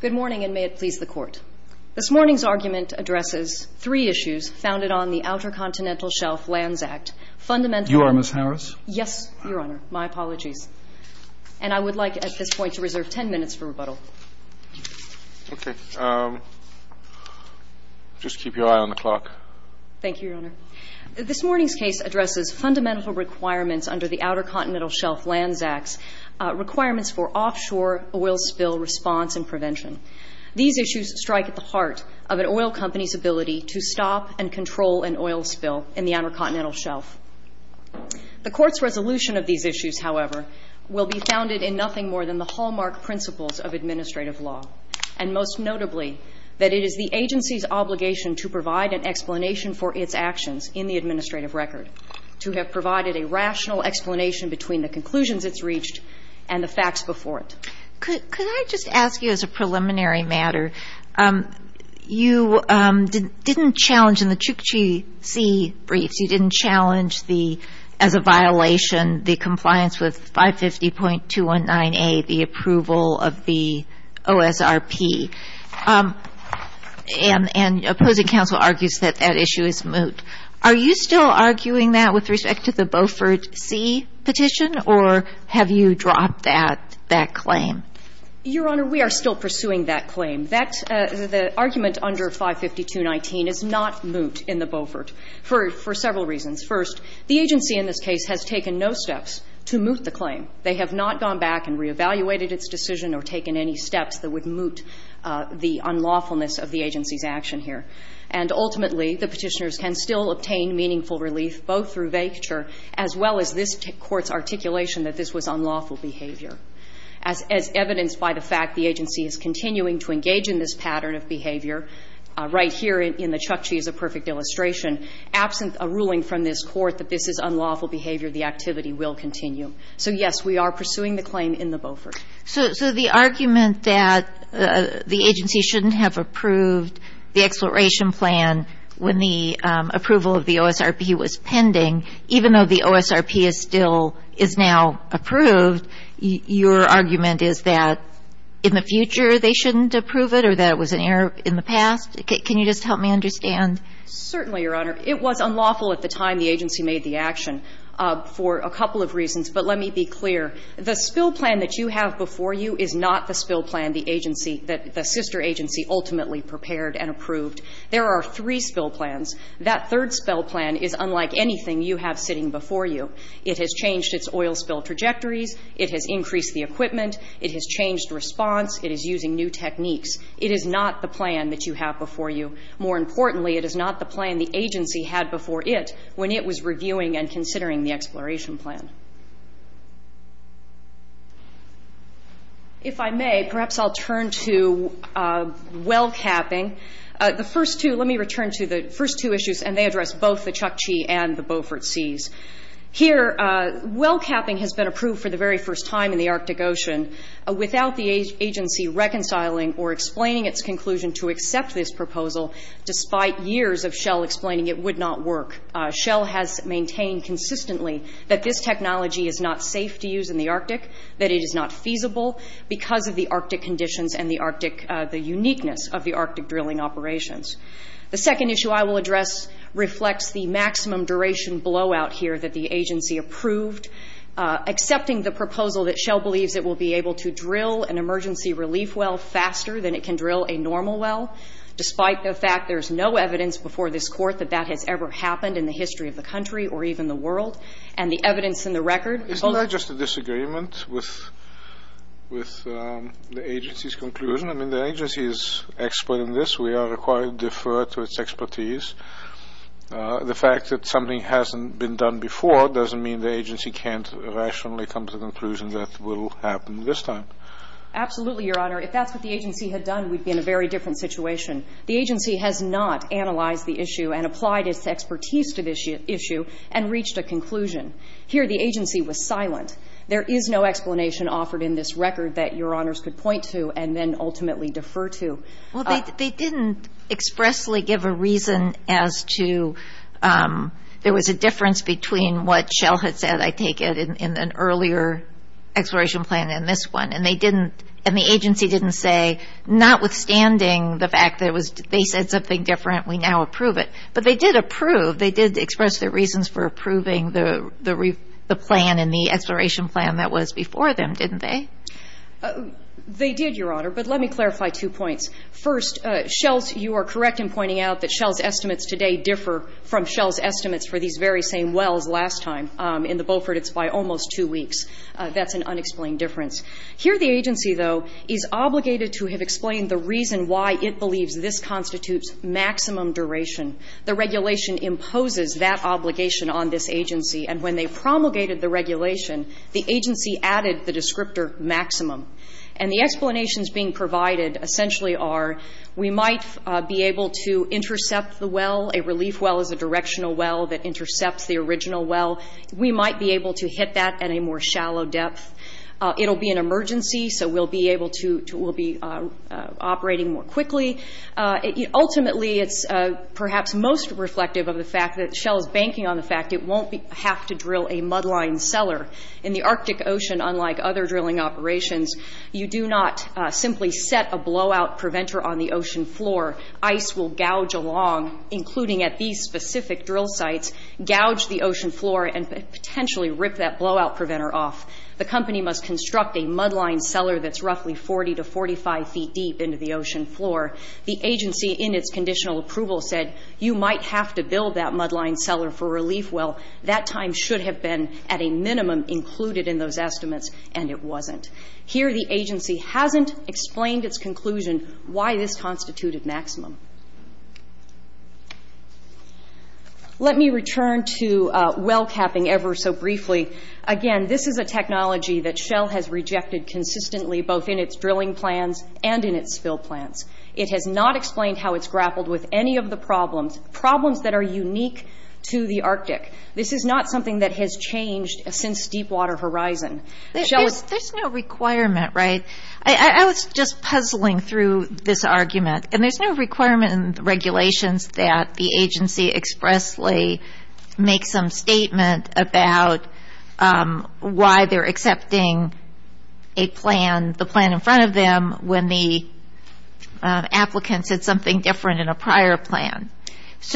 Good morning, and may it please the court. This morning's argument addresses three issues founded on the Outer Continental Shelf Lands Act, fundamentally You are Ms. Harris? Yes, Your Honor. My apologies. And I would like at this point to reserve ten minutes for rebuttal. Okay. Just keep your eye on the clock. Thank you, Your Honor. This morning's case addresses fundamental requirements under the Outer Continental Shelf Lands Act, requirements for offshore oil spill response and prevention. These issues strike at the heart of an oil company's ability to stop and control an oil spill in the Outer Continental Shelf. The court's resolution of these issues, however, will be founded in nothing more than the hallmark principles of administrative law, and most notably that it is the agency's obligation to provide an explanation for its actions in the administrative record, to have provided a rational explanation between the conclusions it's reached and the facts before it. Could I just ask you as a preliminary matter, you didn't challenge in the Chukchi Sea briefs, you didn't challenge the, as a violation, the compliance with 550.219A, the approval of the OSRP. And opposing counsel argues that that issue is moot. Are you still arguing that with respect to the Beaufort Sea petition, or have you dropped that claim? Your Honor, we are still pursuing that claim. That's the argument under 550.219 is not moot in the Beaufort for several reasons. First, the agency in this case has taken no steps to moot the claim. They have not gone back and reevaluated its decision or taken any steps that would moot the unlawfulness of the agency's action here. And ultimately, the Petitioners can still obtain meaningful relief both through vacature as well as this Court's articulation that this was unlawful behavior. As evidenced by the fact the agency is continuing to engage in this pattern of behavior right here in the Chukchi is a perfect illustration, absent a ruling from this Court that this is unlawful behavior, the activity will continue. So, yes, we are pursuing the claim in the Beaufort. So the argument that the agency shouldn't have approved the exploration plan when the approval of the OSRP was pending, even though the OSRP is still – is now approved, your argument is that in the future they shouldn't approve it or that it was an error in the past? Can you just help me understand? Certainly, Your Honor. It was unlawful at the time the agency made the action for a couple of reasons. But let me be clear. The spill plan that you have before you is not the spill plan the agency – the sister agency ultimately prepared and approved. There are three spill plans. That third spill plan is unlike anything you have sitting before you. It has changed its oil spill trajectories. It has increased the equipment. It has changed response. It is using new techniques. It is not the plan that you have before you. More importantly, it is not the plan the agency had before it when it was reviewing and considering the exploration plan. If I may, perhaps I'll turn to well capping. The first two – let me return to the first two issues, and they address both the Chukchi and the Beaufort Seas. Here, well capping has been approved for the very first time in the Arctic Ocean without the agency reconciling or explaining its conclusion to accept this proposal, despite years of Shell explaining it would not work. Shell has maintained consistently that this technology is not safe to use in the Arctic, that it is not feasible because of the Arctic conditions and the Arctic – the uniqueness of the Arctic drilling operations. The second issue I will address reflects the maximum duration blowout here that the agency approved, accepting the proposal that Shell believes it will be able to drill an emergency relief well faster than it can drill a normal well, despite the fact there is no evidence before this Court that that has ever happened in the history of the country or even the world. And the evidence in the record – Isn't that just a disagreement with the agency's conclusion? I mean, the agency is expert in this. We are required to defer to its expertise. The fact that something hasn't been done before doesn't mean the agency can't rationally come to the conclusion that it will happen this time. Absolutely, Your Honor. If that's what the agency had done, we'd be in a very different situation. The agency has not analyzed the issue and applied its expertise to this issue and reached a conclusion. Here, the agency was silent. There is no explanation offered in this record that Your Honors could point to and then ultimately defer to. Well, they didn't expressly give a reason as to – there was a difference between what Shell had said, I take it, in an earlier exploration plan than this one. And the agency didn't say, notwithstanding the fact that they said something different, we now approve it. But they did approve. They did express their reasons for approving the plan and the exploration plan that was before them, didn't they? They did, Your Honor. But let me clarify two points. First, you are correct in pointing out that Shell's estimates today differ from Shell's estimates for these very same wells last time. In the Beaufort, it's by almost two weeks. That's an unexplained difference. Here, the agency, though, is obligated to have explained the reason why it believes this constitutes maximum duration. The regulation imposes that obligation on this agency. And when they promulgated the regulation, the agency added the descriptor maximum. And the explanations being provided essentially are we might be able to intercept the well. A relief well is a directional well that intercepts the original well. We might be able to hit that at a more shallow depth. It will be an emergency, so we'll be able to operate more quickly. Ultimately, it's perhaps most reflective of the fact that Shell is banking on the fact it won't have to drill a mudline cellar. In the Arctic Ocean, unlike other drilling operations, you do not simply set a blowout preventer on the ocean floor. Ice will gouge along, including at these specific drill sites, gouge the ocean floor and potentially rip that blowout preventer off. The company must construct a mudline cellar that's roughly 40 to 45 feet deep into the ocean floor. The agency, in its conditional approval, said you might have to build that mudline cellar for a relief well. That time should have been at a minimum included in those estimates, and it wasn't. Here, the agency hasn't explained its conclusion why this constituted maximum. Let me return to well capping ever so briefly. Again, this is a technology that Shell has rejected consistently, both in its drilling plans and in its spill plans. It has not explained how it's grappled with any of the problems, problems that are unique to the Arctic. This is not something that has changed since Deepwater Horizon. There's no requirement, right? I was just puzzling through this argument. There's no requirement in the regulations that the agency expressly make some statement about why they're accepting a plan, the plan in front of them, when the applicant said something different in a prior plan. Is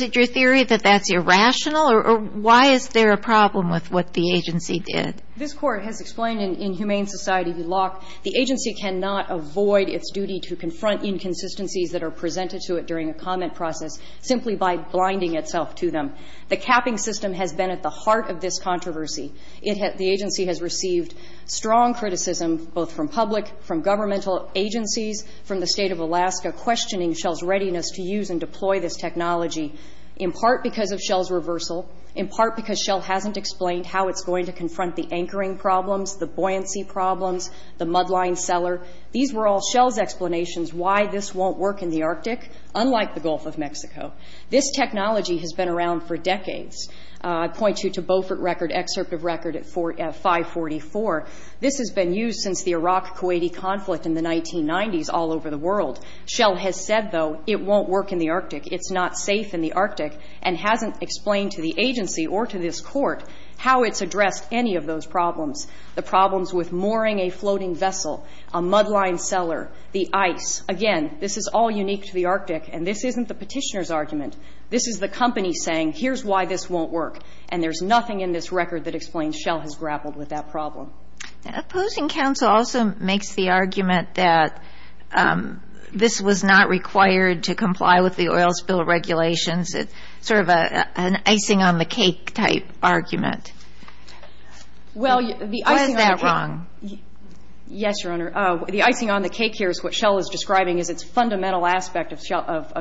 it your theory that that's irrational, or why is there a problem with what the agency did? This court has explained in Humane Society, the agency cannot avoid its duty to confront inconsistencies that are presented to it during a comment process simply by blinding itself to them. The capping system has been at the heart of this controversy. The agency has received strong criticism, both from public, from governmental agencies, from the State of Alaska, questioning Shell's readiness to use and deploy this technology, in part because of Shell's reversal, in part because Shell hasn't explained how it's going to confront the anchoring problems, the buoyancy problems, the mudline cellar. These were all Shell's explanations why this won't work in the Arctic, unlike the Gulf of Mexico. This technology has been around for decades. I point you to Beaufort record, excerpt of record at 544. This has been used since the Iraq-Kuwaiti conflict in the 1990s all over the world. Shell has said, though, it won't work in the Arctic, it's not safe in the Arctic, and hasn't explained to the agency or to this court how it's addressed any of those problems, the problems with mooring a floating vessel, a mudline cellar, the ice. Again, this is all unique to the Arctic, and this isn't the petitioner's argument. This is the company saying, here's why this won't work, and there's nothing in this record that explains Shell has grappled with that problem. Opposing counsel also makes the argument that this was not required to comply with the oil spill regulations. It's sort of an icing on the cake type argument. Why is that wrong? Yes, Your Honor. The icing on the cake here is what Shell is describing as its fundamental aspect of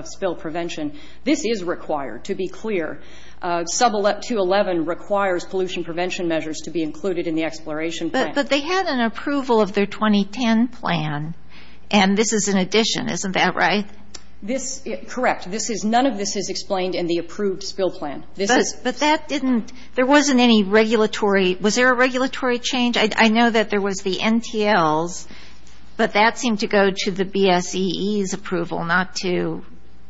spill prevention. This is required, to be clear. Sub-2.11 requires pollution prevention measures to be included in the exploration plan. But they had an approval of their 2010 plan, and this is an addition. Isn't that right? This is correct. None of this is explained in the approved spill plan. But that didn't – there wasn't anything in the 2010 plan. Any regulatory – was there a regulatory change? I know that there was the NTLs, but that seemed to go to the BSEE's approval, not to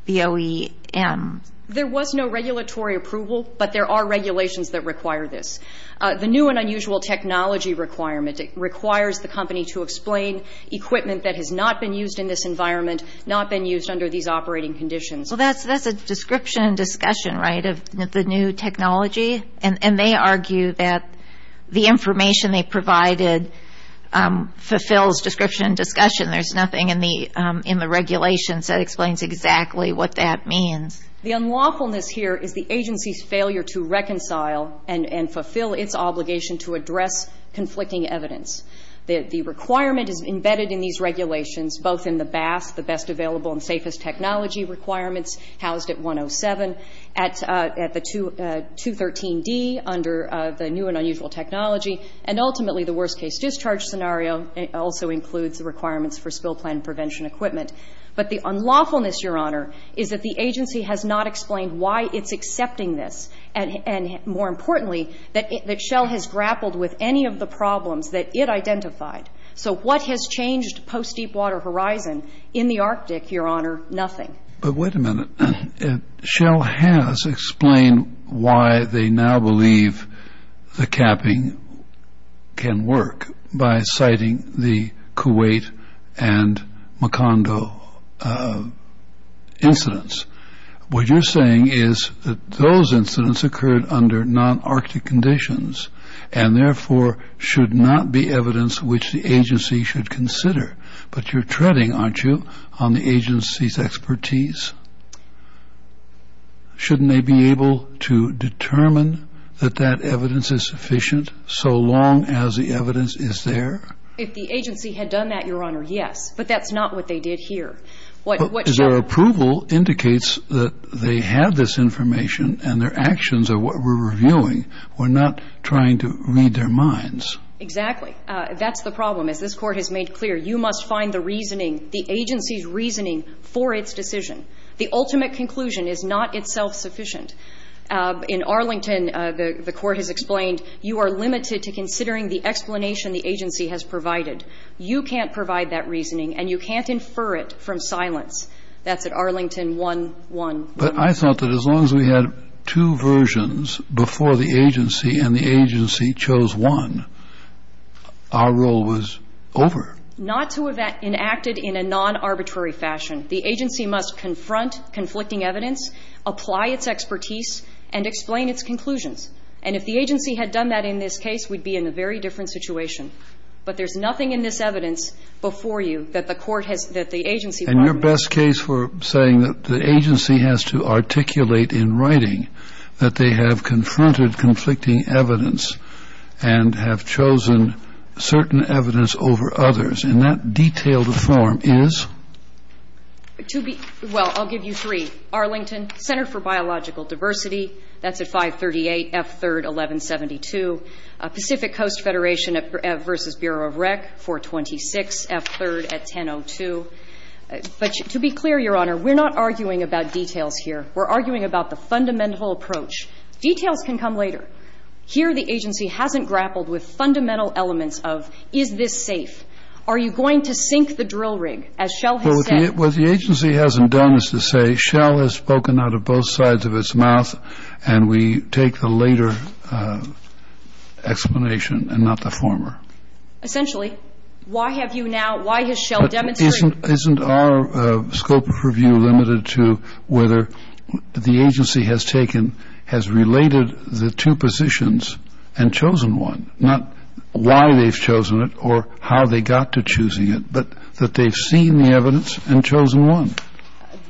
the OEM. There was no regulatory approval, but there are regulations that require this. The new and unusual technology requirement requires the company to explain equipment that has not been used in this environment, not been used under these operating conditions. Well, that's a description and discussion, right, of the new technology? And they argue that the information they provided fulfills description and discussion. There's nothing in the regulations that explains exactly what that means. The unlawfulness here is the agency's failure to reconcile and fulfill its obligation to address conflicting evidence. The requirement is embedded in these regulations, both in the BAS, the best available and safest technology requirements housed at 107, at the 213D under the new and unusual technology, and ultimately the worst case discharge scenario also includes the requirements for spill plan prevention equipment. But the unlawfulness, Your Honor, is that the agency has not explained why it's accepting this, and more importantly that Shell has grappled with any of the problems that it identified. So what has changed post-Deepwater Horizon in the Arctic, Your Honor? Nothing. But wait a minute. Shell has explained why they now believe the capping can work by citing the Kuwait and Macondo incidents. What you're saying is that those incidents occurred under non-Arctic conditions and therefore should not be evidence which the agency should consider. But you're treading, aren't you, on the agency's expertise? Shouldn't they be able to determine that that evidence is sufficient so long as the evidence is there? If the agency had done that, Your Honor, yes. But that's not what they did here. Their approval indicates that they had this information and their actions are what we're reviewing. We're not trying to read their minds. Exactly. That's the problem. As this Court has made clear, you must find the reasoning, the agency's reasoning for its decision. The ultimate conclusion is not itself sufficient. In Arlington, the Court has explained, you are limited to considering the explanation the agency has provided. You can't provide that reasoning and you can't infer it from silence. That's at Arlington 1-1. But I thought that as long as we had two versions before the agency and the agency chose one, our role was over. Not to have enacted in a non-arbitrary fashion. The agency must confront conflicting evidence, apply its expertise, and explain its conclusions. And if the agency had done that in this case, we'd be in a very different situation. But there's nothing in this evidence before you that the Court has – that the agency might have used. And your best case for saying that the agency has to articulate in writing that they have confronted conflicting evidence and have chosen certain evidence over others in that detailed form is? To be – well, I'll give you three. Arlington Center for Biological Diversity, that's at 538 F3rd 1172. Pacific Coast Federation versus Bureau of Rec, 426 F3rd at 1002. But to be clear, Your Honor, we're not arguing about details here. We're arguing about the fundamental approach. Details can come later. Here the agency hasn't grappled with fundamental elements of is this safe? Are you going to sink the drill rig, as Shell has said? Well, what the agency hasn't done is to say Shell has spoken out of both sides of its mouth, and we take the later explanation and not the former. Essentially. Why have you now – why has Shell demonstrated? Isn't our scope of review limited to whether the agency has taken – has related the two positions and chosen one? Not why they've chosen it or how they got to choosing it, but that they've seen the evidence and chosen one.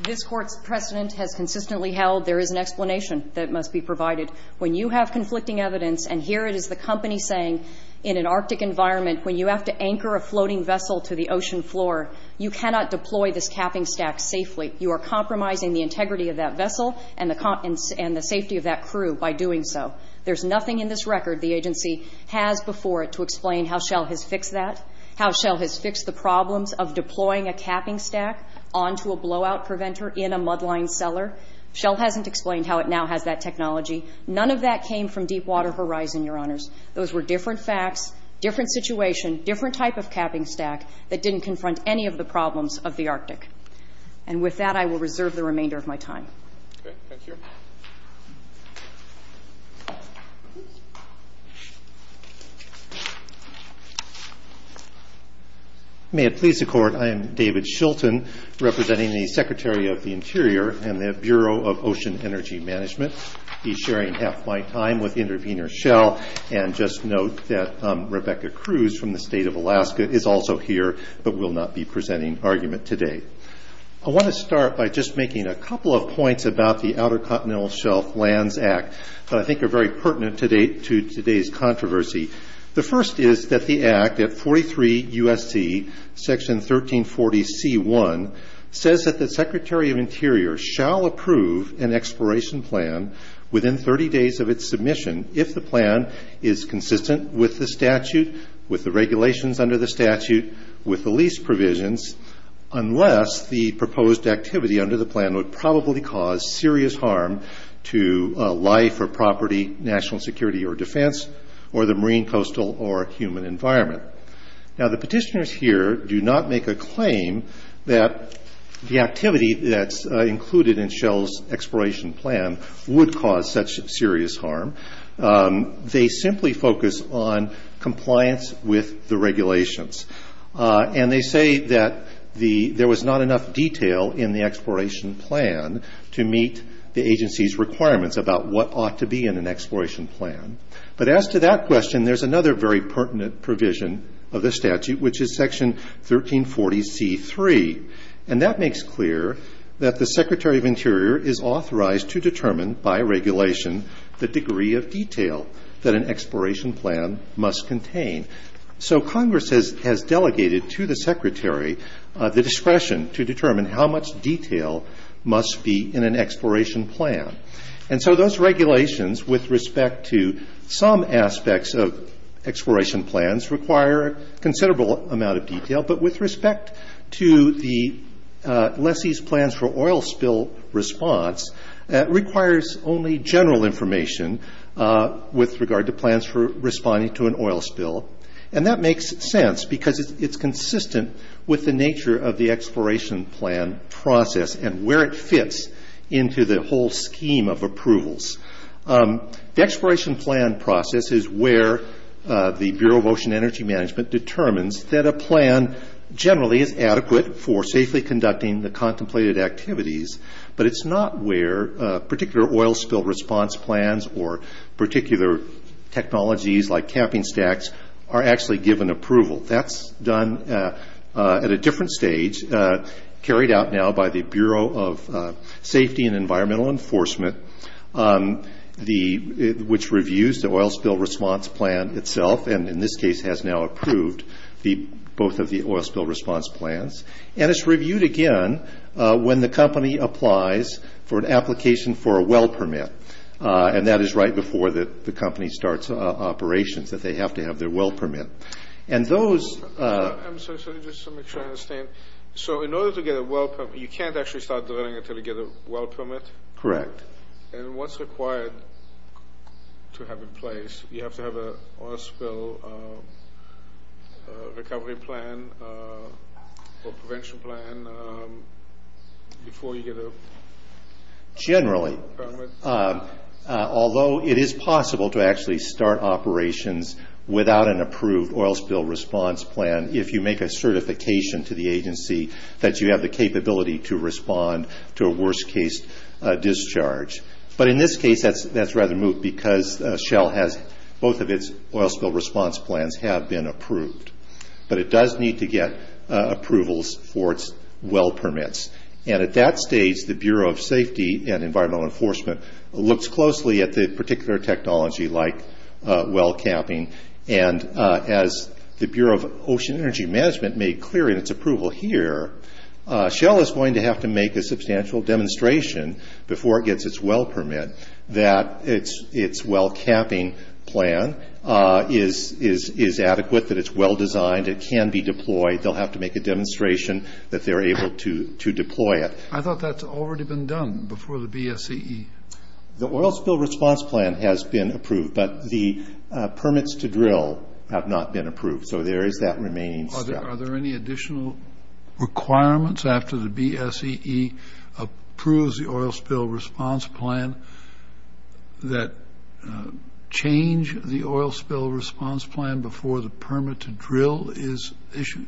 This Court's precedent has consistently held there is an explanation that must be provided. When you have conflicting evidence, and here it is the company saying in an Arctic environment, when you have to anchor a floating vessel to the ocean floor, you cannot deploy this capping stack safely. You are compromising the integrity of that vessel and the safety of that crew by doing so. There's nothing in this record the agency has before it to explain how Shell has fixed that, how Shell has fixed the problems of deploying a capping stack onto a blowout preventer in a mudline cellar. Shell hasn't explained how it now has that technology. None of that came from Deepwater Horizon, Your Honors. Those were different facts, different situation, different type of capping stack that didn't confront any of the problems of the Arctic. And with that, I will reserve the remainder of my time. Okay. Thank you. May it please the Court, I am David Shilton, representing the Secretary of the Interior and the Bureau of Ocean Energy Management. I will be sharing half my time with Intervenor Shell and just note that Rebecca Cruz from the State of Alaska is also here but will not be presenting argument today. I want to start by just making a couple of points about the Outer Continental Shelf Lands Act that I think are very pertinent to today's controversy. The first is that the Act at 43 U.S.C., Section 1340 C.1, says that the Secretary of Interior shall approve an exploration plan within 30 days of its submission if the plan is consistent with the statute, with the regulations under the statute, with the lease provisions, unless the proposed activity under the plan would probably cause serious harm to life or property, national security or defense, or the marine, coastal, or human environment. Now, the petitioners here do not make a claim that the activity that's included in Shell's exploration plan would cause such serious harm. They simply focus on compliance with the regulations. And they say that there was not enough detail in the exploration plan to meet the agency's requirements about what ought to be in an exploration plan. But as to that question, there's another very pertinent provision of the statute, which is Section 1340 C.3. And that makes clear that the Secretary of Interior is authorized to determine by regulation the degree of detail that an exploration plan must contain. So Congress has delegated to the Secretary the discretion to determine how much detail must be in an exploration plan. And so those regulations with respect to some aspects of exploration plans require considerable amount of detail. But with respect to the lessee's plans for oil spill response, that requires only general information with regard to plans for responding to an oil spill. And that makes sense because it's consistent with the nature of the exploration plan process and where it fits into the whole scheme of approvals. The exploration plan process is where the Bureau of Ocean Energy Management determines that a plan generally is adequate for safely conducting the contemplated activities, but it's not where particular oil spill response plans or particular technologies like camping stacks are actually given approval. That's done at a different stage, carried out now by the Bureau of Safety and Environmental Enforcement, which reviews the oil spill response plan itself, and in this case has now approved both of the oil spill response plans. And it's reviewed again when the company applies for an application for a well permit. And that is right before the company starts operations, that they have to have their well permit. And those... I'm sorry, just to make sure I understand. So in order to get a well permit, you can't actually start drilling until you get a well permit? Correct. And what's required to have in place? You have to have an oil spill recovery plan or prevention plan before you get a permit? Correct. Although it is possible to actually start operations without an approved oil spill response plan if you make a certification to the agency that you have the capability to respond to a worst case discharge. But in this case, that's rather moot because Shell has both of its oil spill response plans have been approved. But it does need to get approvals for its well permits. And at that stage, the Bureau of Safety and Environmental Enforcement looks closely at the particular technology like well capping. And as the Bureau of Ocean Energy Management made clear in its approval here, Shell is going to have to make a substantial demonstration before it gets its well permit that its well capping plan is adequate, that it's well designed, it can be deployed. They'll have to make a demonstration that they're able to deploy it. I thought that's already been done before the BSEE. The oil spill response plan has been approved. But the permits to drill have not been approved. So there is that remaining step. Are there any additional requirements after the BSEE approves the oil spill response plan that change the oil spill response plan before the permit to drill is issued?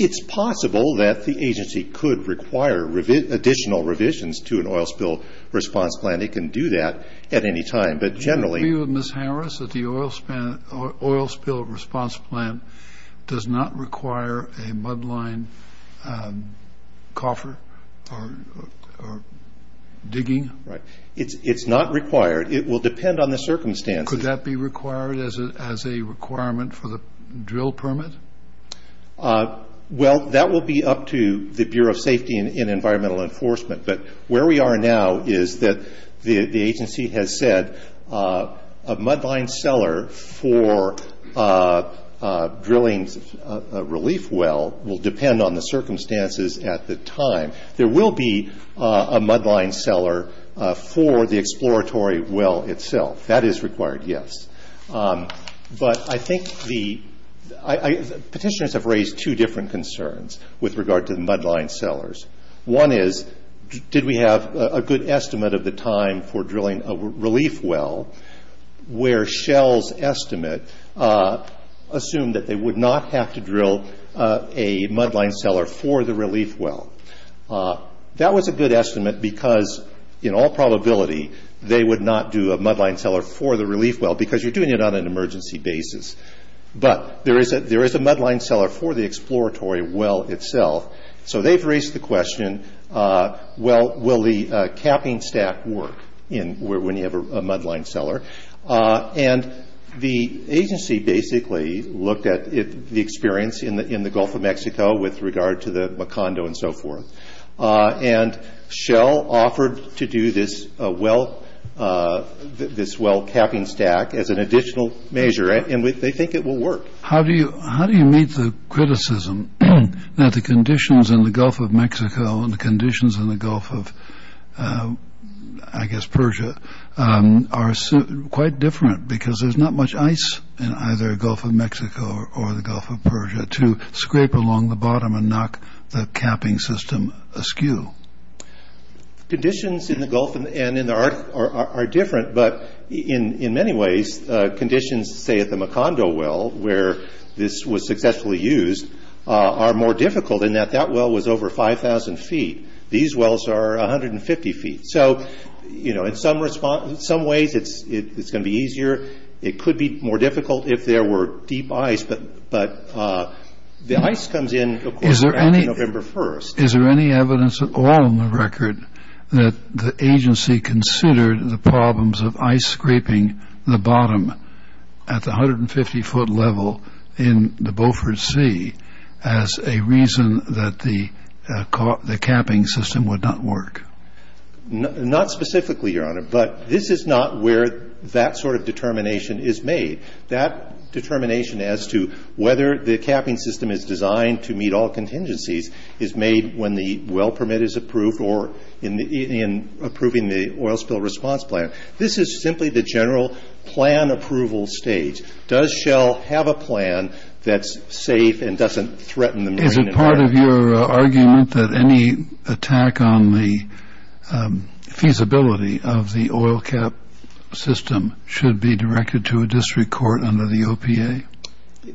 It's possible that the agency could require additional revisions to an oil spill response plan. It can do that at any time. Do you agree with Ms. Harris that the oil spill response plan does not require a mudline coffer or digging? It's not required. It will depend on the circumstances. Could that be required as a requirement for the drill permit? Well, that will be up to the Bureau of Safety and Environmental Enforcement. But where we are now is that the agency has said a mudline cellar for drilling a relief well will depend on the circumstances at the time. There will be a mudline cellar for the exploratory well itself. That is required, yes. But I think the petitioners have raised two different concerns with regard to the mudline cellars. One is, did we have a good estimate of the time for drilling a relief well, where Shell's estimate assumed that they would not have to drill a mudline cellar for the relief well? That was a good estimate because, in all probability, they would not do a mudline cellar for the relief well because you're doing it on an emergency basis. But there is a mudline cellar for the exploratory well itself. So they've raised the question, well, will the capping stack work when you have a mudline cellar? And the agency basically looked at the experience in the Gulf of Mexico with regard to the Macondo and so forth. And Shell offered to do this well capping stack as an additional measure, and they think it will work. How do you meet the criticism that the conditions in the Gulf of Mexico and the conditions in the Gulf of, I guess, Persia, are quite different because there's not much ice in either the Gulf of Mexico or the Gulf of Persia to scrape along the bottom and knock the capping system askew? Conditions in the Gulf and in the Arctic are different, but in many ways conditions, say, at the Macondo well where this was successfully used, are more difficult in that that well was over 5,000 feet. These wells are 150 feet. So, you know, in some ways it's going to be easier. It could be more difficult if there were deep ice, but the ice comes in, of course, around November 1st. Is there any evidence at all in the record that the agency considered the problems of ice scraping the bottom at the 150-foot level in the Beaufort Sea as a reason that the capping system would not work? Not specifically, Your Honor, but this is not where that sort of determination is made. That determination as to whether the capping system is designed to meet all contingencies is made when the well permit is approved or in approving the oil spill response plan. This is simply the general plan approval stage. Does Shell have a plan that's safe and doesn't threaten the marine environment? Is it part of your argument that any attack on the feasibility of the oil cap system should be directed to a district court under the OPA?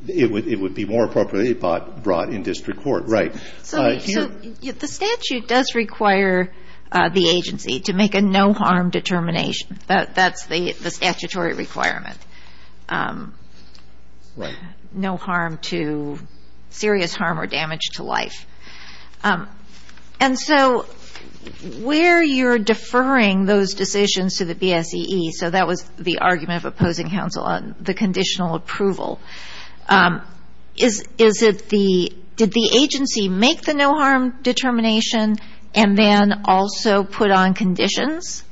It would be more appropriate if brought in district court. Right. So the statute does require the agency to make a no-harm determination. That's the statutory requirement. No harm to serious harm or damage to life. And so where you're deferring those decisions to the BSEE, so that was the argument of opposing counsel on the conditional approval. Did the agency make the no-harm determination and then also put on conditions,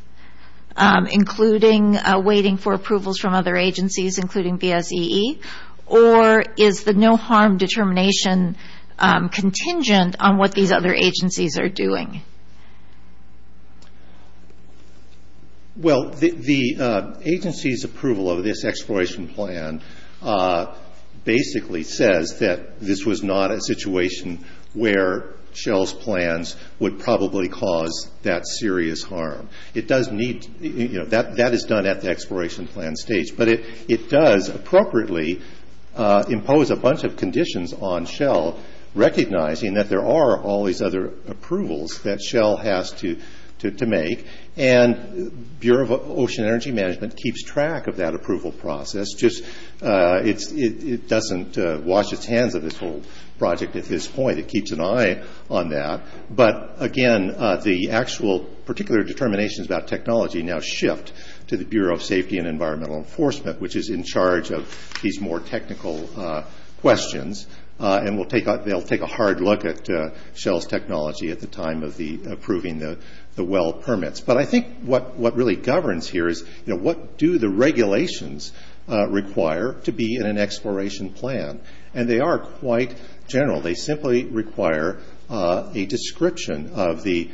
including waiting for approvals from other agencies, including BSEE? Or is the no-harm determination contingent on what these other agencies are doing? Well, the agency's approval of this exploration plan basically says that this was not a situation where Shell's plans would probably cause that serious harm. That is done at the exploration plan stage. But it does appropriately impose a bunch of conditions on Shell, recognizing that there are all these other approvals that Shell has to make. And Bureau of Ocean Energy Management keeps track of that approval process. It doesn't wash its hands of this whole project at this point. It keeps an eye on that. But again, the actual particular determinations about technology now shift to the Bureau of Safety and Environmental Enforcement, which is in charge of these more technical questions. And they'll take a hard look at Shell's technology at the time of approving the well permits. But I think what really governs here is what do the regulations require to be in an exploration plan? And they are quite general. They simply require a description of the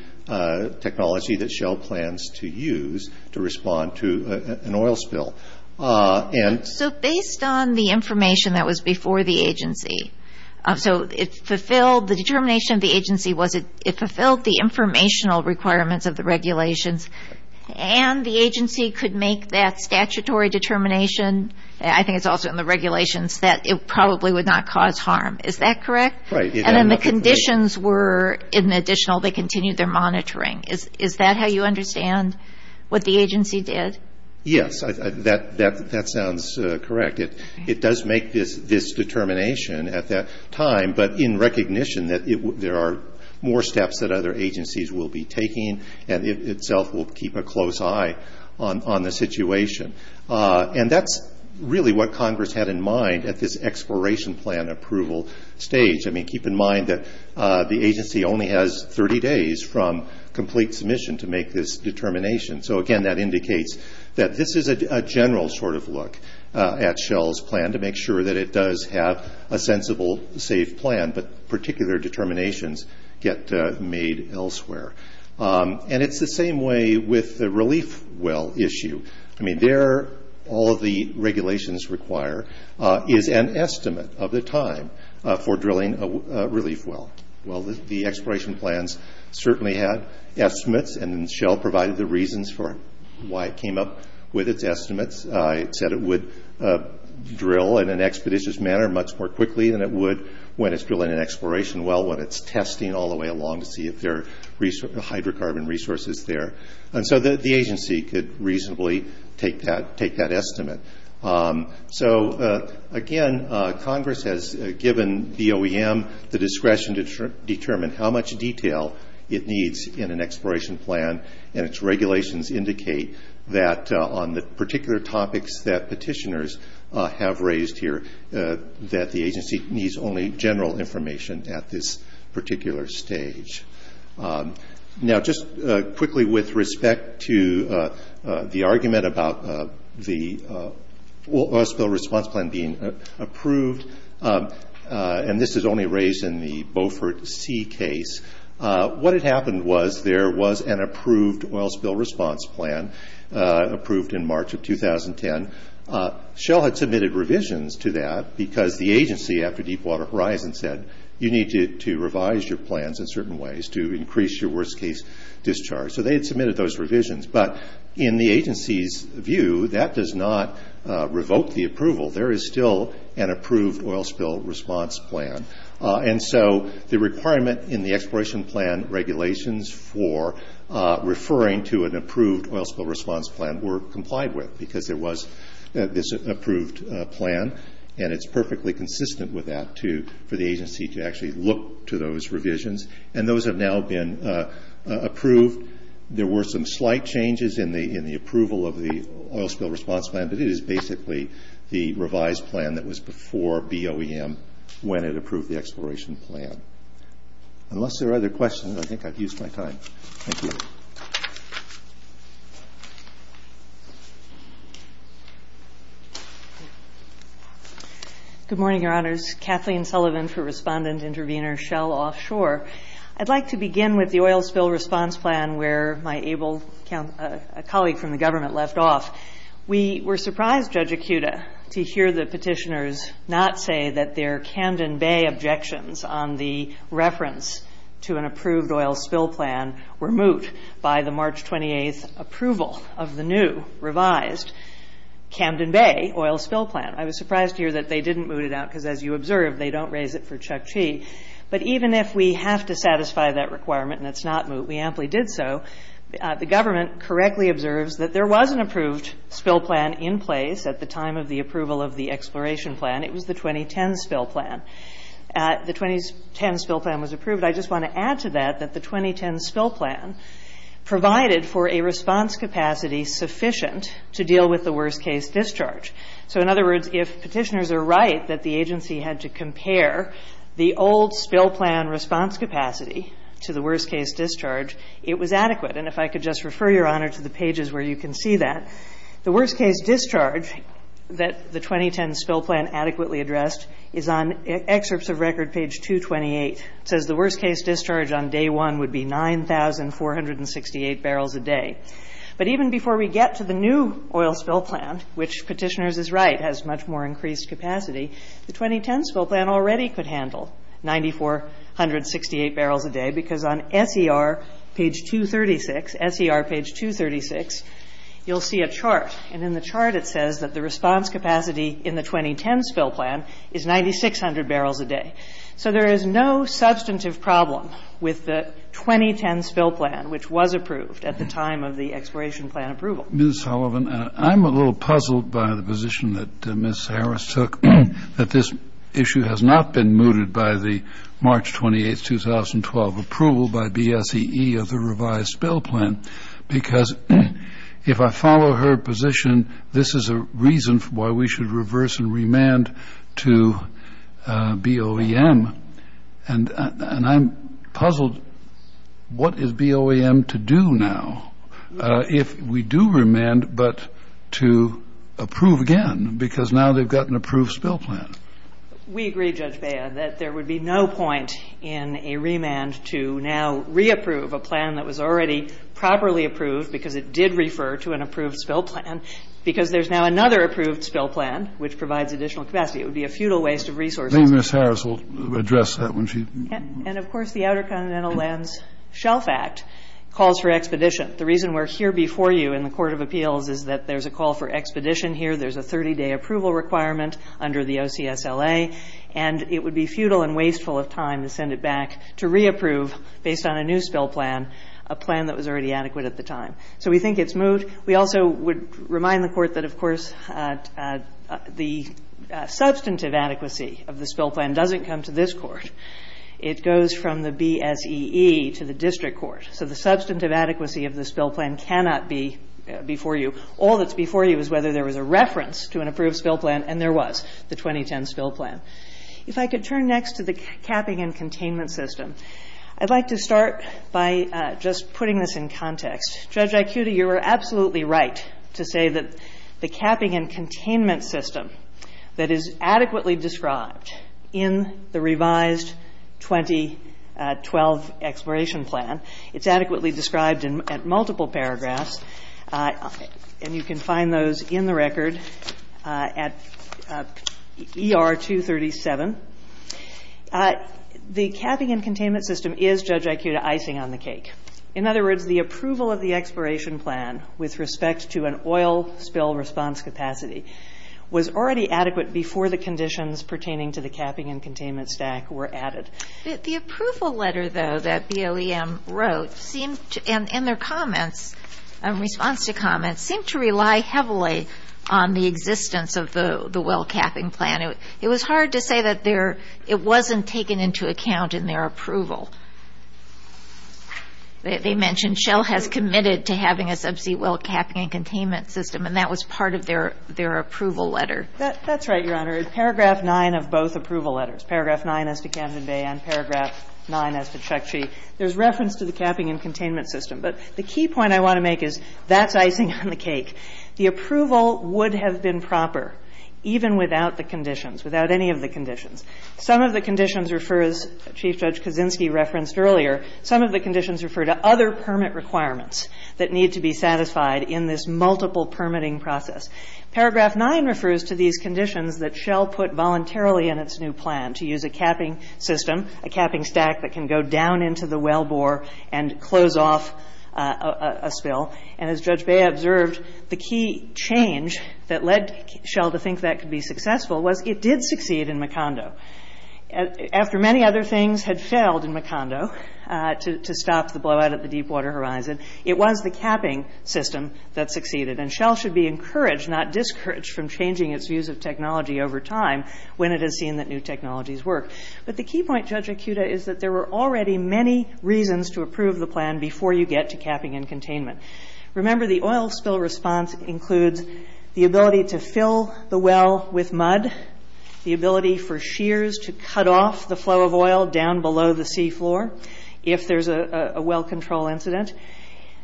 technology that Shell plans to use to respond to an oil spill. So based on the information that was before the agency, so the determination of the agency was it fulfilled the informational requirements of the regulations, and the agency could make that statutory determination, I think it's also in the regulations, that it probably would not cause harm. Is that correct? And then the conditions were, in addition, they continued their monitoring. Is that how you understand what the agency did? Yes, that sounds correct. It does make this determination at that time, but in recognition that there are more steps that other agencies will be taking, and it itself will keep a close eye on the situation. And that's really what Congress had in mind at this exploration plan approval stage. I mean, keep in mind that the agency only has 30 days from complete submission to make this determination. So, again, that indicates that this is a general sort of look at Shell's plan to make sure that it does have a sensible, safe plan, but particular determinations get made elsewhere. And it's the same way with the relief well issue. I mean, there, all of the regulations require is an estimate of the time for drilling a relief well. Well, the exploration plans certainly had estimates, and Shell provided the reasons for why it came up with its estimates. It said it would drill in an expeditious manner much more quickly than it would when it's drilling an exploration well, when it's testing all the way along to see if there are hydrocarbon resources there. And so the agency could reasonably take that estimate. So, again, Congress has given DOEM the discretion to determine how much detail it needs in an exploration plan, and its regulations indicate that on the particular topics that petitioners have raised here, that the agency needs only general information at this particular stage. Now, just quickly with respect to the argument about the oil spill response plan being approved, and this is only raised in the Beaufort Sea case, what had happened was there was an approved oil spill response plan approved in March of 2010. Shell had submitted revisions to that because the agency, after Deepwater Horizon, said you need to revise your plans in certain ways to increase your worst-case discharge. So they had submitted those revisions. But in the agency's view, that does not revoke the approval. There is still an approved oil spill response plan. And so the requirement in the exploration plan regulations for referring to an approved oil spill response plan were complied with because there was this approved plan, and it's perfectly consistent with that for the agency to actually look to those revisions. And those have now been approved. There were some slight changes in the approval of the oil spill response plan, but it is basically the revised plan that was before BOEM when it approved the exploration plan. Unless there are other questions, I think I've used my time. Thank you. Kathleen Sullivan. Good morning, Your Honors. Kathleen Sullivan for Respondent Intervenor, Shell Offshore. I'd like to begin with the oil spill response plan where my able colleague from the government left off. We were surprised, Judge Akuta, to hear the petitioners not say that their Camden Bay objections on the reference to an approved oil spill plan were moot by the March 28th approval of the new revised Camden Bay oil spill plan. I was surprised to hear that they didn't moot it out because, as you observed, they don't raise it for Chukchi. But even if we have to satisfy that requirement and it's not moot, we amply did so, the government correctly observes that there was an approved spill plan in place at the time of the approval of the exploration plan. It was the 2010 spill plan. The 2010 spill plan was approved. I just want to add to that that the 2010 spill plan provided for a response capacity sufficient to deal with the worst-case discharge. So in other words, if petitioners are right that the agency had to compare the old spill plan response capacity to the worst-case discharge, it was adequate. And if I could just refer, Your Honor, to the pages where you can see that. The worst-case discharge that the 2010 spill plan adequately addressed is on excerpts of record page 228. It says the worst-case discharge on day one would be 9,468 barrels a day. But even before we get to the new oil spill plan, which petitioners is right, has much more increased capacity, the 2010 spill plan already could handle 9,468 barrels a day because on SER page 236, you'll see a chart, and in the chart it says that the response capacity in the 2010 spill plan is 9,600 barrels a day. So there is no substantive problem with the 2010 spill plan, which was approved at the time of the exploration plan approval. Ms. Sullivan, I'm a little puzzled by the position that Ms. Harris took, that this issue has not been mooted by the March 28, 2012 approval by BSEE of the revised spill plan because if I follow her position, this is a reason why we should reverse and remand to BOEM. And I'm puzzled what is BOEM to do now if we do remand but to approve again because now they've got an approved spill plan. We agree, Judge Beyer, that there would be no point in a remand to now reapprove a plan that was already properly approved because it did refer to an approved spill plan because there's now another approved spill plan which provides additional capacity. It would be a futile waste of resources. I think Ms. Harris will address that when she – And of course the Outer Continental Lands Shelf Act calls for expedition. The reason we're here before you in the court of appeals is that there's a call for expedition here. There's a 30-day approval requirement under the OCSLA, and it would be futile and wasteful of time to send it back to reapprove based on a new spill plan, a plan that was already adequate at the time. So we think it's moved. We also would remind the court that, of course, the substantive adequacy of the spill plan doesn't come to this court. It goes from the BSEE to the district court. So the substantive adequacy of the spill plan cannot be before you. All that's before you is whether there was a reference to an approved spill plan, and there was, the 2010 spill plan. If I could turn next to the capping and containment system, I'd like to start by just putting this in context. Judge Icuda, you are absolutely right to say that the capping and containment system that is adequately described in the revised 2012 exploration plan, it's adequately described at multiple paragraphs, and you can find those in the record at ER 237. The capping and containment system is, Judge Icuda, icing on the cake. In other words, the approval of the exploration plan with respect to an oil spill response capacity was already adequate before the conditions pertaining to the capping and containment stack were added. The approval letter, though, that BLEM wrote seemed to, and their comments, response to comments, seemed to rely heavily on the existence of the well capping plan. It was hard to say that it wasn't taken into account in their approval. They mentioned Shell has committed to having a subsea well capping and containment system, and that was part of their approval letter. That's right, Your Honor. In paragraph 9 of both approval letters, paragraph 9 as to Camden Bay and paragraph 9 as to Chukchi, there's reference to the capping and containment system. But the key point I want to make is that's icing on the cake. The approval would have been proper even without the conditions, without any of the conditions. Some of the conditions refer, as Chief Judge Kaczynski referenced earlier, some of the conditions refer to other permit requirements that need to be satisfied in this multiple permitting process. Paragraph 9 refers to these conditions that Shell put voluntarily in its new plan, to use a capping system, a capping stack that can go down into the wellbore and close off a spill. And as Judge Bay observed, the key change that led Shell to think that could be successful was it did succeed in Macondo. After many other things had failed in Macondo to stop the blowout at the deepwater horizon, it was the capping system that succeeded. And Shell should be encouraged, not discouraged, from changing its views of technology over time when it has seen that new technologies work. But the key point, Judge Akuta, is that there were already many reasons to approve the plan before you get to capping and containment. Remember, the oil spill response includes the ability to fill the well with mud, the ability for shears to cut off the flow of oil down below the seafloor. If there's a well control incident.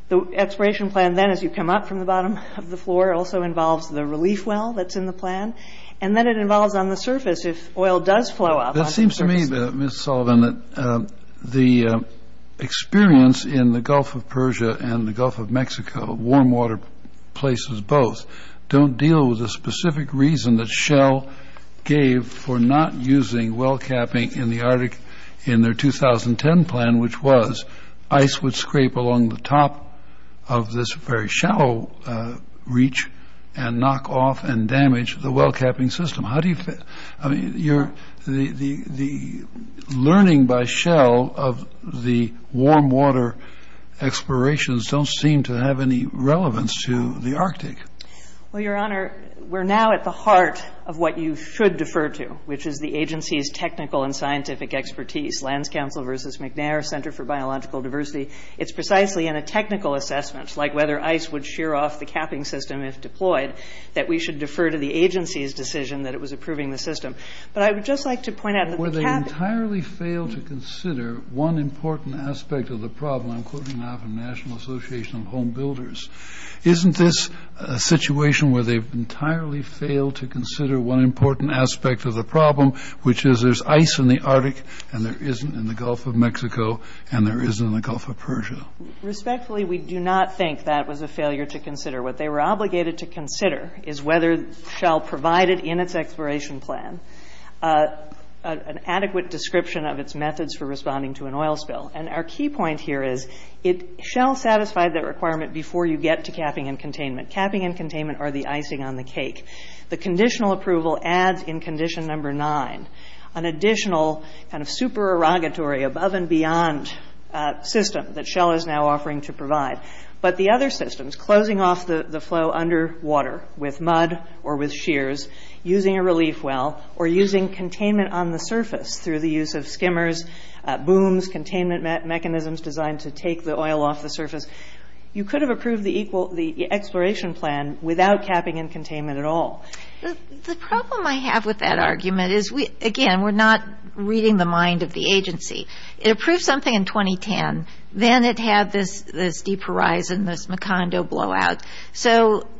The exploration plan then, as you come up from the bottom of the floor, also involves the relief well that's in the plan. And then it involves on the surface, if oil does flow up on the surface. It seems to me, Ms. Sullivan, that the experience in the Gulf of Persia and the Gulf of Mexico, warm water places both, don't deal with the specific reason that Shell gave for not using well capping in the Arctic in their 2010 plan, which was ice would scrape along the top of this very shallow reach and knock off and damage the well capping system. I mean, the learning by Shell of the warm water explorations don't seem to have any relevance to the Arctic. Well, Your Honor, we're now at the heart of what you should defer to, which is the agency's technical and scientific expertise. Lands Council versus McNair, Center for Biological Diversity. It's precisely in a technical assessment, like whether ice would shear off the capping system if deployed, that we should defer to the agency's decision that it was approving the system. But I would just like to point out that the capping- Where they entirely fail to consider one important aspect of the problem. I'm quoting now from the National Association of Home Builders. Isn't this a situation where they've entirely failed to consider one important aspect of the problem, which is there's ice in the Arctic and there isn't in the Gulf of Mexico and there isn't in the Gulf of Persia. Respectfully, we do not think that was a failure to consider. What they were obligated to consider is whether Shell provided in its exploration plan an adequate description of its methods for responding to an oil spill. And our key point here is it Shell satisfied that requirement before you get to capping and containment. Capping and containment are the icing on the cake. The conditional approval adds in condition number nine an additional kind of supererogatory above and beyond system that Shell is now offering to provide. But the other systems, closing off the flow underwater with mud or with shears, using a relief well, or using containment on the surface through the use of skimmers, booms, containment mechanisms designed to take the oil off the surface, you could have approved the exploration plan without capping and containment at all. The problem I have with that argument is, again, we're not reading the mind of the agency. It approved something in 2010. Then it had this deep horizon, this Macondo blowout.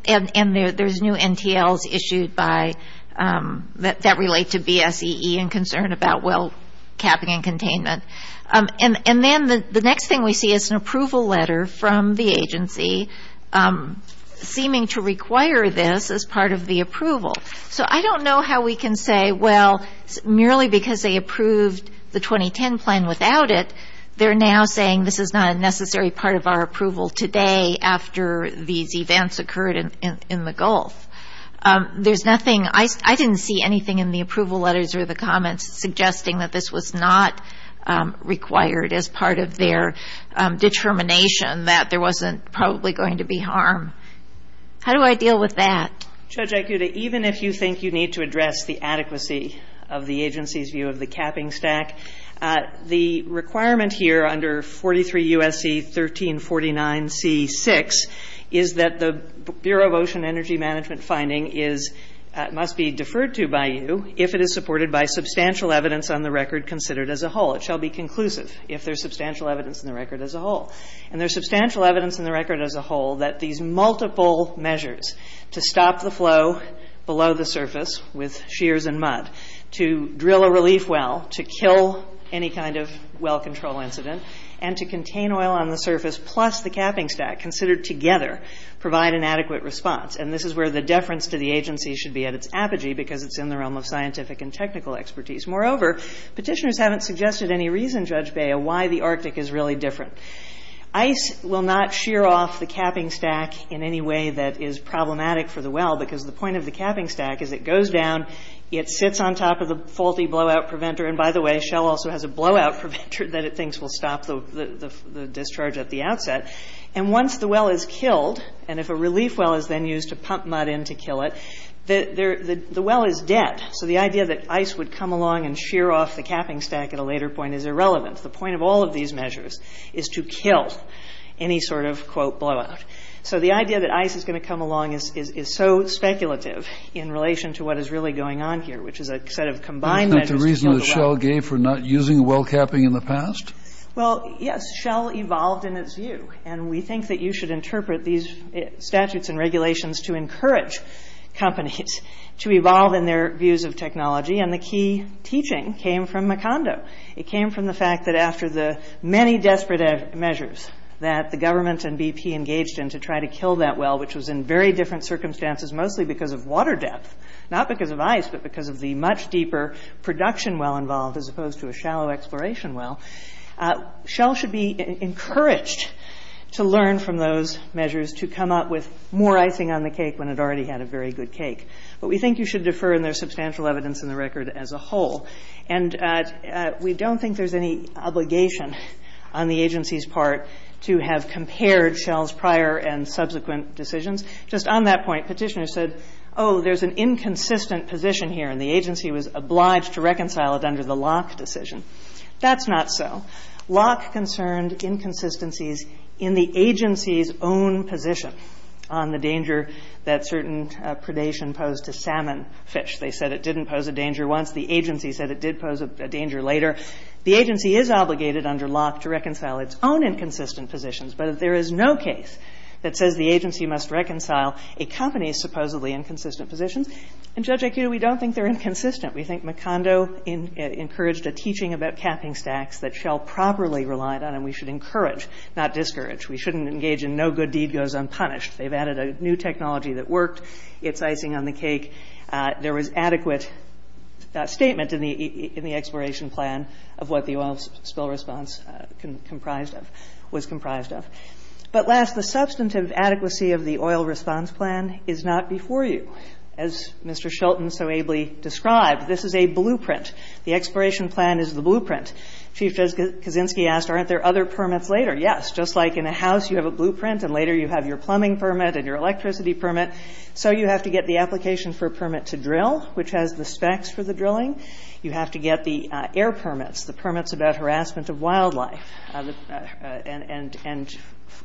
And there's new NTLs issued that relate to BSEE and concern about well capping and containment. And then the next thing we see is an approval letter from the agency seeming to require this as part of the approval. So I don't know how we can say, well, merely because they approved the 2010 plan without it, they're now saying this is not a necessary part of our approval today after these events occurred in the Gulf. There's nothing ‑‑ I didn't see anything in the approval letters or the comments suggesting that this was not required as part of their determination that there wasn't probably going to be harm. How do I deal with that? Judge Aikuda, even if you think you need to address the adequacy of the agency's view of the capping stack, the requirement here under 43 U.S.C. 1349C6 is that the Bureau of Ocean Energy Management finding must be deferred to by you if it is supported by substantial evidence on the record considered as a whole. It shall be conclusive if there's substantial evidence in the record as a whole. And there's substantial evidence in the record as a whole that these multiple measures to stop the flow below the surface with shears and mud, to drill a relief well, to kill any kind of well control incident, and to contain oil on the surface plus the capping stack considered together provide an adequate response. And this is where the deference to the agency should be at its apogee, because it's in the realm of scientific and technical expertise. Moreover, petitioners haven't suggested any reason, Judge Bea, why the Arctic is really different. ICE will not shear off the capping stack in any way that is problematic for the well, because the point of the capping stack is it goes down, it sits on top of the faulty blowout preventer, and by the way, Shell also has a blowout preventer that it thinks will stop the discharge at the outset. And once the well is killed, and if a relief well is then used to pump mud in to kill it, the well is dead. So the idea that ICE would come along and shear off the capping stack at a later point is irrelevant. The point of all of these measures is to kill any sort of, quote, blowout. So the idea that ICE is going to come along is so speculative in relation to what is really going on here, which is a set of combined measures to kill the well. That's not the reason that Shell gave for not using well capping in the past? Well, yes, Shell evolved in its view, and we think that you should interpret these statutes and regulations to encourage companies to evolve in their views of technology, and the key teaching came from Macondo. It came from the fact that after the many desperate measures that the government and BP engaged in to try to kill that well, which was in very different circumstances, mostly because of water depth, not because of ICE, but because of the much deeper production well involved as opposed to a shallow exploration well, Shell should be encouraged to learn from those measures to come up with more icing on the cake when it already had a very good cake. But we think you should defer, and there's substantial evidence in the record as a whole. And we don't think there's any obligation on the agency's part to have compared Shell's prior and subsequent decisions. Just on that point, Petitioner said, oh, there's an inconsistent position here, and the agency was obliged to reconcile it under the Locke decision. That's not so. Locke concerned inconsistencies in the agency's own position on the danger that certain predation posed to salmon, fish. They said it didn't pose a danger once. The agency said it did pose a danger later. The agency is obligated under Locke to reconcile its own inconsistent positions, but if there is no case that says the agency must reconcile a company's supposedly inconsistent positions, in Judge Acudo, we don't think they're inconsistent. We think Macondo encouraged a teaching about capping stacks that Shell properly relied on, and we should encourage, not discourage. We shouldn't engage in no good deed goes unpunished. They've added a new technology that worked. It's icing on the cake. There was adequate statement in the exploration plan of what the oil spill response was comprised of. But last, the substantive adequacy of the oil response plan is not before you. As Mr. Shelton so ably described, this is a blueprint. The exploration plan is the blueprint. Chief Kozinski asked, aren't there other permits later? Yes, just like in a house you have a blueprint and later you have your plumbing permit and your electricity permit, so you have to get the application for a permit to drill, which has the specs for the drilling. You have to get the air permits, the permits about harassment of wildlife.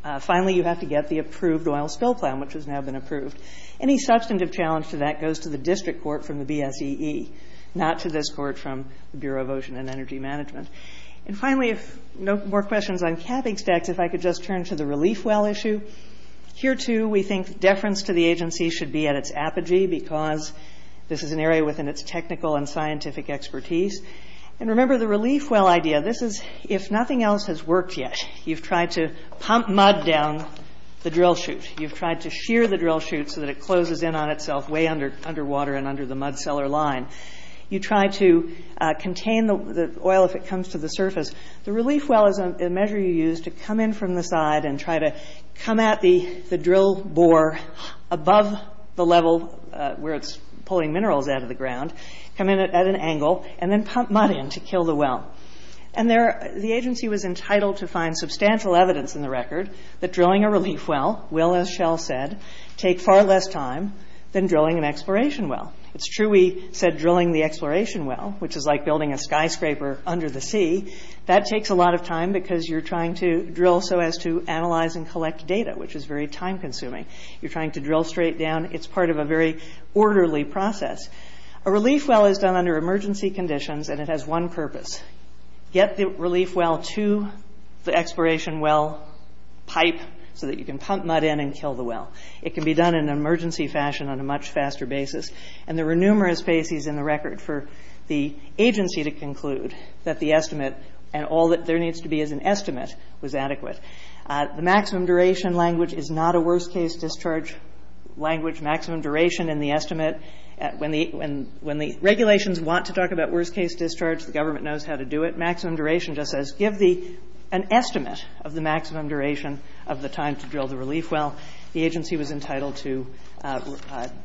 And finally, you have to get the approved oil spill plan, which has now been approved. Any substantive challenge to that goes to the district court from the BSEE, not to this court from the Bureau of Ocean and Energy Management. And finally, if no more questions on capping stacks, if I could just turn to the relief well issue. Here, too, we think deference to the agency should be at its apogee because this is an area within its technical and scientific expertise. And remember the relief well idea, this is if nothing else has worked yet. You've tried to pump mud down the drill chute. You've tried to shear the drill chute so that it closes in on itself way underwater and under the mud cellar line. You try to contain the oil if it comes to the surface. The relief well is a measure you use to come in from the side and try to come at the drill bore above the level where it's pulling minerals out of the ground, come in at an angle, and then pump mud in to kill the well. And the agency was entitled to find substantial evidence in the record that drilling a relief well will, as Shell said, take far less time than drilling an exploration well. It's true we said drilling the exploration well, which is like building a skyscraper under the sea, that takes a lot of time because you're trying to drill so as to analyze and collect data, which is very time-consuming. You're trying to drill straight down. It's part of a very orderly process. A relief well is done under emergency conditions, and it has one purpose, get the relief well to the exploration well pipe so that you can pump mud in and kill the well. It can be done in an emergency fashion on a much faster basis. And there were numerous bases in the record for the agency to conclude that the estimate and all that there needs to be as an estimate was adequate. The maximum duration language is not a worst-case discharge language. Maximum duration in the estimate, when the regulations want to talk about worst-case discharge, the government knows how to do it. Maximum duration just says give an estimate of the maximum duration of the time to drill the relief well. The agency was entitled to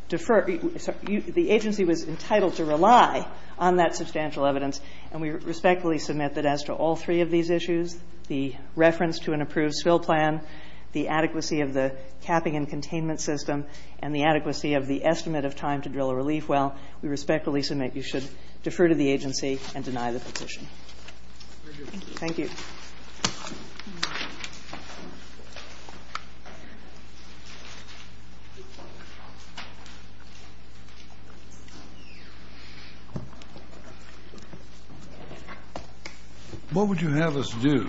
defer. The agency was entitled to rely on that substantial evidence, and we respectfully submit that as to all three of these issues, the reference to an approved spill plan, the adequacy of the capping and containment system, and the adequacy of the estimate of time to drill a relief well, we respectfully submit you should defer to the agency and deny the petition. Thank you. Thank you. What would you have us do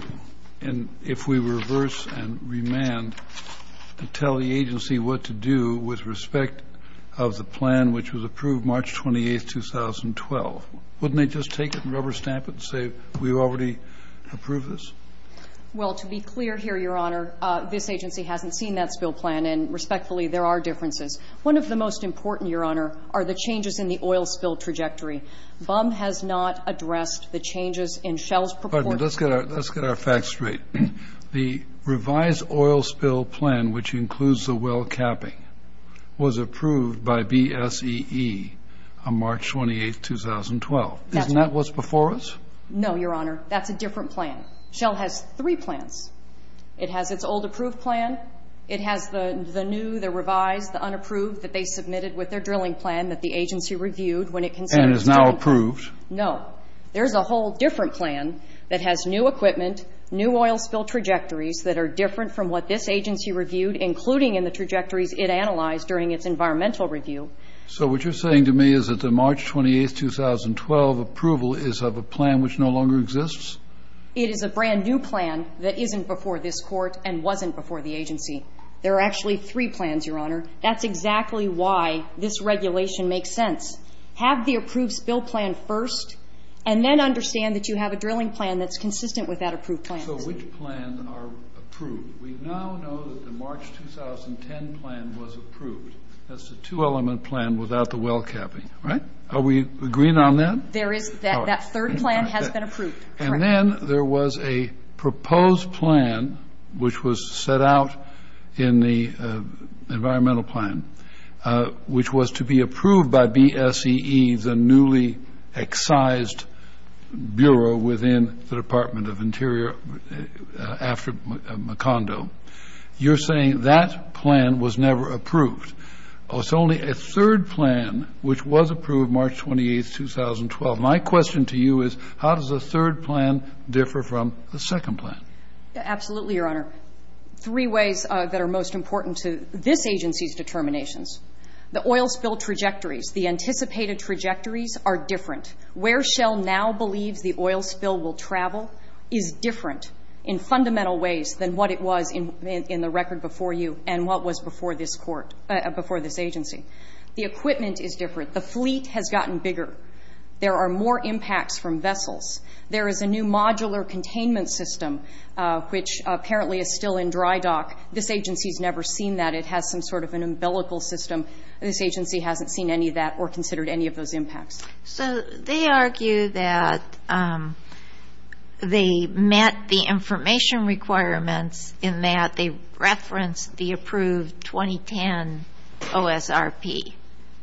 if we reverse and remand to tell the agency what to do with respect of the plan which was approved March 28, 2012? Wouldn't they just take it and rubber stamp it and say we already approved this? Well, to be clear here, Your Honor, this agency hasn't seen that spill plan, and respectfully, there are differences. One of the most important, Your Honor, are the changes in the oil spill trajectory. BUM has not addressed the changes in Shell's purported plan. Pardon me. Let's get our facts straight. The revised oil spill plan, which includes the well capping, was approved by BSEE on March 28, 2012. Isn't that what's before us? No, Your Honor. That's a different plan. Shell has three plans. It has its old approved plan. It has the new, the revised, the unapproved that they submitted with their drilling plan that the agency reviewed when it considered its drilling plan. And is now approved. No. There's a whole different plan that has new equipment, new oil spill trajectories that are different from what this agency reviewed, including in the trajectories it analyzed during its environmental review. So what you're saying to me is that the March 28, 2012 approval is of a plan which no longer exists? It is a brand new plan that isn't before this Court and wasn't before the agency. There are actually three plans, Your Honor. That's exactly why this regulation makes sense. Have the approved spill plan first, and then understand that you have a drilling plan that's consistent with that approved plan. So which plans are approved? We now know that the March 2010 plan was approved. That's the two-element plan without the well capping, right? Are we agreeing on that? There is. That third plan has been approved. And then there was a proposed plan, which was set out in the environmental plan, which was to be approved by BSEE, the newly excised bureau within the Department of Interior after Macondo. You're saying that plan was never approved. It's only a third plan, which was approved March 28, 2012. My question to you is how does a third plan differ from a second plan? Absolutely, Your Honor. Three ways that are most important to this agency's determinations. The oil spill trajectories, the anticipated trajectories are different. Where Shell now believes the oil spill will travel is different in fundamental ways than what it was in the record before you and what was before this agency. The equipment is different. The fleet has gotten bigger. There are more impacts from vessels. There is a new modular containment system, which apparently is still in dry dock. This agency has never seen that. It has some sort of an umbilical system. This agency hasn't seen any of that or considered any of those impacts. So they argue that they met the information requirements in that they referenced the approved 2010 OSRP.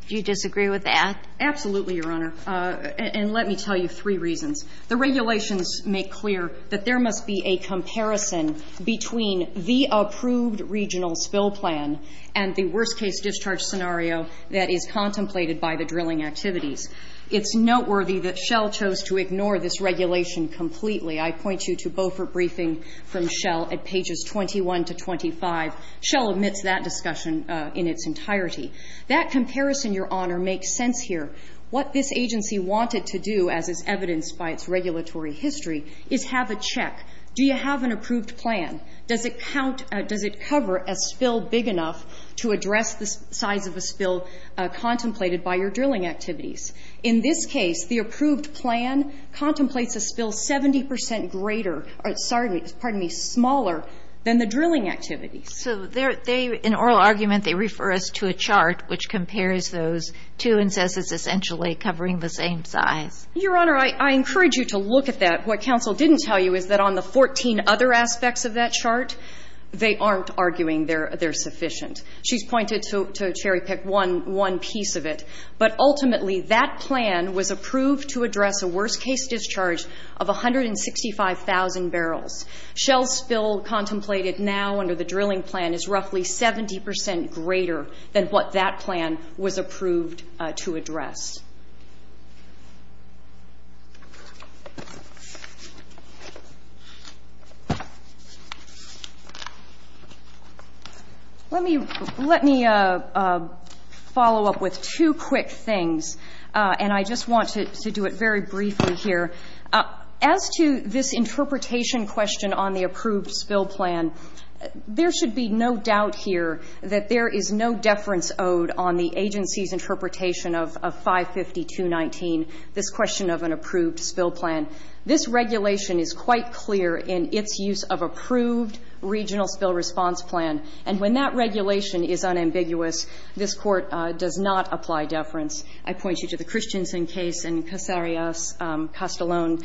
Do you disagree with that? Absolutely, Your Honor. And let me tell you three reasons. The regulations make clear that there must be a comparison between the approved regional spill plan and the worst-case discharge scenario that is contemplated by the drilling activities. It's noteworthy that Shell chose to ignore this regulation completely. I point you to Beaufort briefing from Shell at pages 21 to 25. Shell omits that discussion in its entirety. That comparison, Your Honor, makes sense here. What this agency wanted to do, as is evidenced by its regulatory history, is have a check. Do you have an approved plan? Does it cover a spill big enough to address the size of a spill contemplated by your drilling activities? In this case, the approved plan contemplates a spill 70 percent greater or, pardon me, smaller than the drilling activities. So in oral argument, they refer us to a chart which compares those two and says it's essentially covering the same size. Your Honor, I encourage you to look at that. What counsel didn't tell you is that on the 14 other aspects of that chart, they aren't arguing they're sufficient. She's pointed to cherry-pick one piece of it. But ultimately, that plan was approved to address a worst-case discharge of 165,000 barrels. Shell's spill contemplated now under the drilling plan is roughly 70 percent greater than what that plan was approved to address. Let me follow up with two quick things, and I just want to do it very briefly here. As to this interpretation question on the approved spill plan, there should be no doubt here that there is no deference owed on the agency's interpretation of 552.19, this question of an approved spill plan. This regulation is quite clear in its use of approved regional spill response plan. And when that regulation is unambiguous, this Court does not apply deference. I point you to the Christensen case and Casarias-Castellon.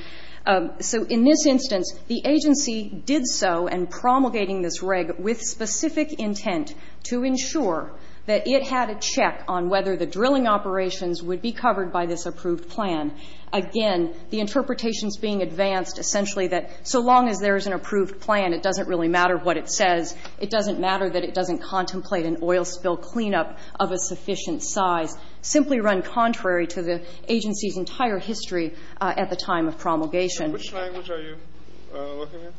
So in this instance, the agency did so, and promulgating this reg with specific intent to ensure that it had a check on whether the drilling operations would be covered by this approved plan. Again, the interpretation is being advanced essentially that so long as there is an approved plan, it doesn't really matter what it says. It doesn't matter that it doesn't contemplate an oil spill cleanup of a sufficient size, simply run contrary to the agency's entire history at the time of promulgation. Which language are you looking at?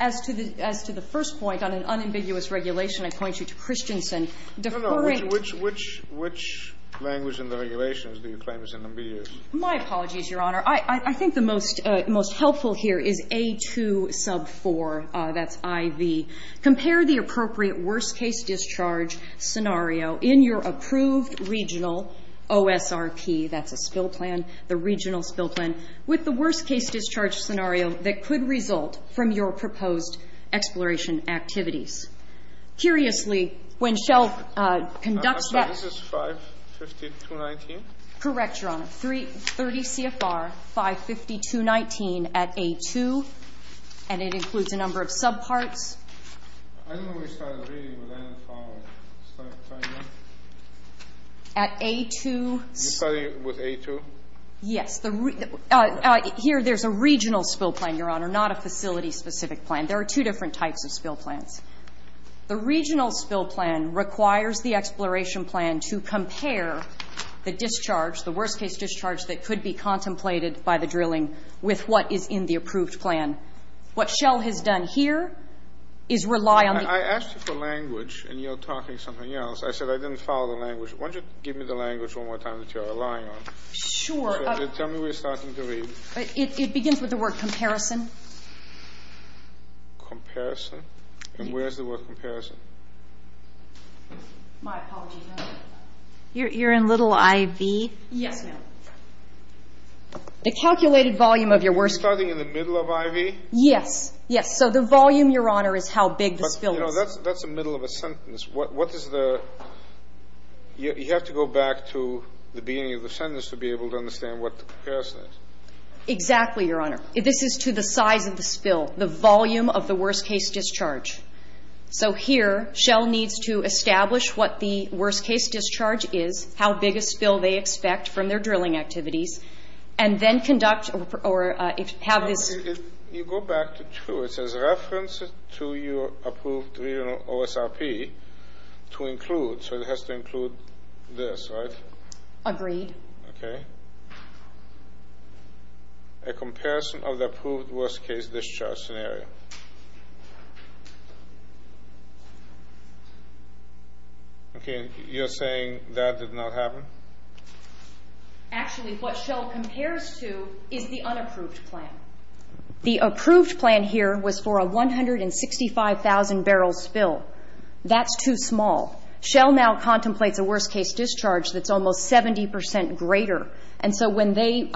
As to the first point, on an unambiguous regulation, I point you to Christensen. No, no. Which language in the regulations do you claim is unambiguous? My apologies, Your Honor. I think the most helpful here is A2 sub 4. That's IV. Compare the appropriate worst-case-discharge scenario in your approved regional OSRP. That's a spill plan, the regional spill plan. With the worst-case-discharge scenario that could result from your proposed exploration activities. Curiously, when Shell conducts that ‒ So this is 550-219? Correct, Your Honor. 30 CFR 550-219 at A2. And it includes a number of subparts. I don't know where you started reading, but I didn't follow. At A2 ‒ You started with A2? Here, there's a regional spill plan, Your Honor, not a facility-specific plan. There are two different types of spill plans. The regional spill plan requires the exploration plan to compare the discharge ‒ the worst-case-discharge that could be contemplated by the drilling with what is in the approved plan. What Shell has done here is rely on the ‒ I asked you for language, and you're talking something else. I said I didn't follow the language. Why don't you give me the language one more time that you're relying on? Sure. Tell me where you're starting to read. It begins with the word comparison. Comparison? And where is the word comparison? My apologies, Your Honor. You're in little IV? Yes. The calculated volume of your worst-case ‒ You're starting in the middle of IV? Yes. Yes. So the volume, Your Honor, is how big the spill is. But, you know, that's the middle of a sentence. What is the ‒ you have to go back to the beginning of the sentence to be able to understand what the comparison is. Exactly, Your Honor. This is to the size of the spill, the volume of the worst-case discharge. So here, Shell needs to establish what the worst-case discharge is, how big a spill they expect from their drilling activities, and then conduct ‒ or have this ‒ You go back to true. It says reference to your approved OSRP to include. So it has to include this, right? Agreed. Okay. A comparison of the approved worst-case discharge scenario. Okay. You're saying that did not happen? Actually, what Shell compares to is the unapproved plan. The approved plan here was for a 165,000-barrel spill. That's too small. Shell now contemplates a worst-case discharge that's almost 70 percent greater. And so when they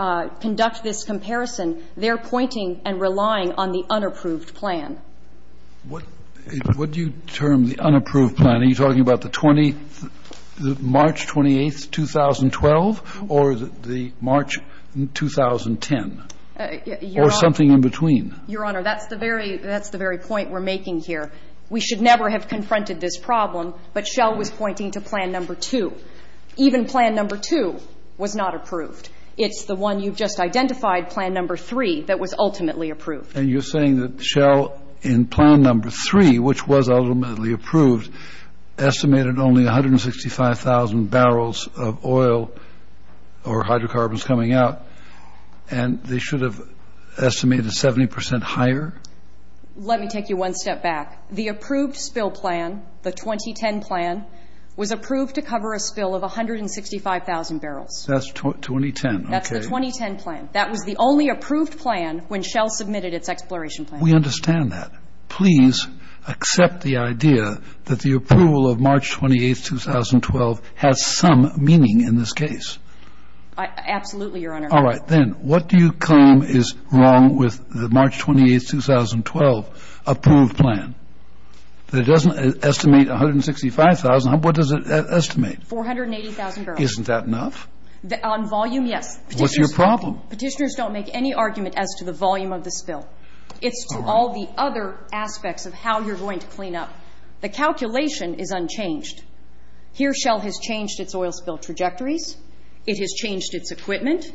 conduct this comparison, they're pointing and relying on the unapproved plan. What do you term the unapproved plan? Are you talking about the March 28, 2012, or the March 2010? Or something in between. Your Honor, that's the very point we're making here. We should never have confronted this problem, but Shell was pointing to Plan No. 2. Even Plan No. 2 was not approved. It's the one you've just identified, Plan No. 3, that was ultimately approved. And you're saying that Shell, in Plan No. 3, which was ultimately approved, estimated only 165,000 barrels of oil or hydrocarbons coming out, and they should have estimated 70 percent higher? Let me take you one step back. The approved spill plan, the 2010 plan, was approved to cover a spill of 165,000 barrels. That's 2010. That's the 2010 plan. That was the only approved plan when Shell submitted its exploration plan. We understand that. Please accept the idea that the approval of March 28, 2012 has some meaning in this case. Absolutely, Your Honor. All right. Then what do you claim is wrong with the March 28, 2012 approved plan? It doesn't estimate 165,000. What does it estimate? 480,000 barrels. Isn't that enough? On volume, yes. What's your problem? Petitioners don't make any argument as to the volume of the spill. It's to all the other aspects of how you're going to clean up. The calculation is unchanged. Here, Shell has changed its oil spill trajectories. It has changed its equipment.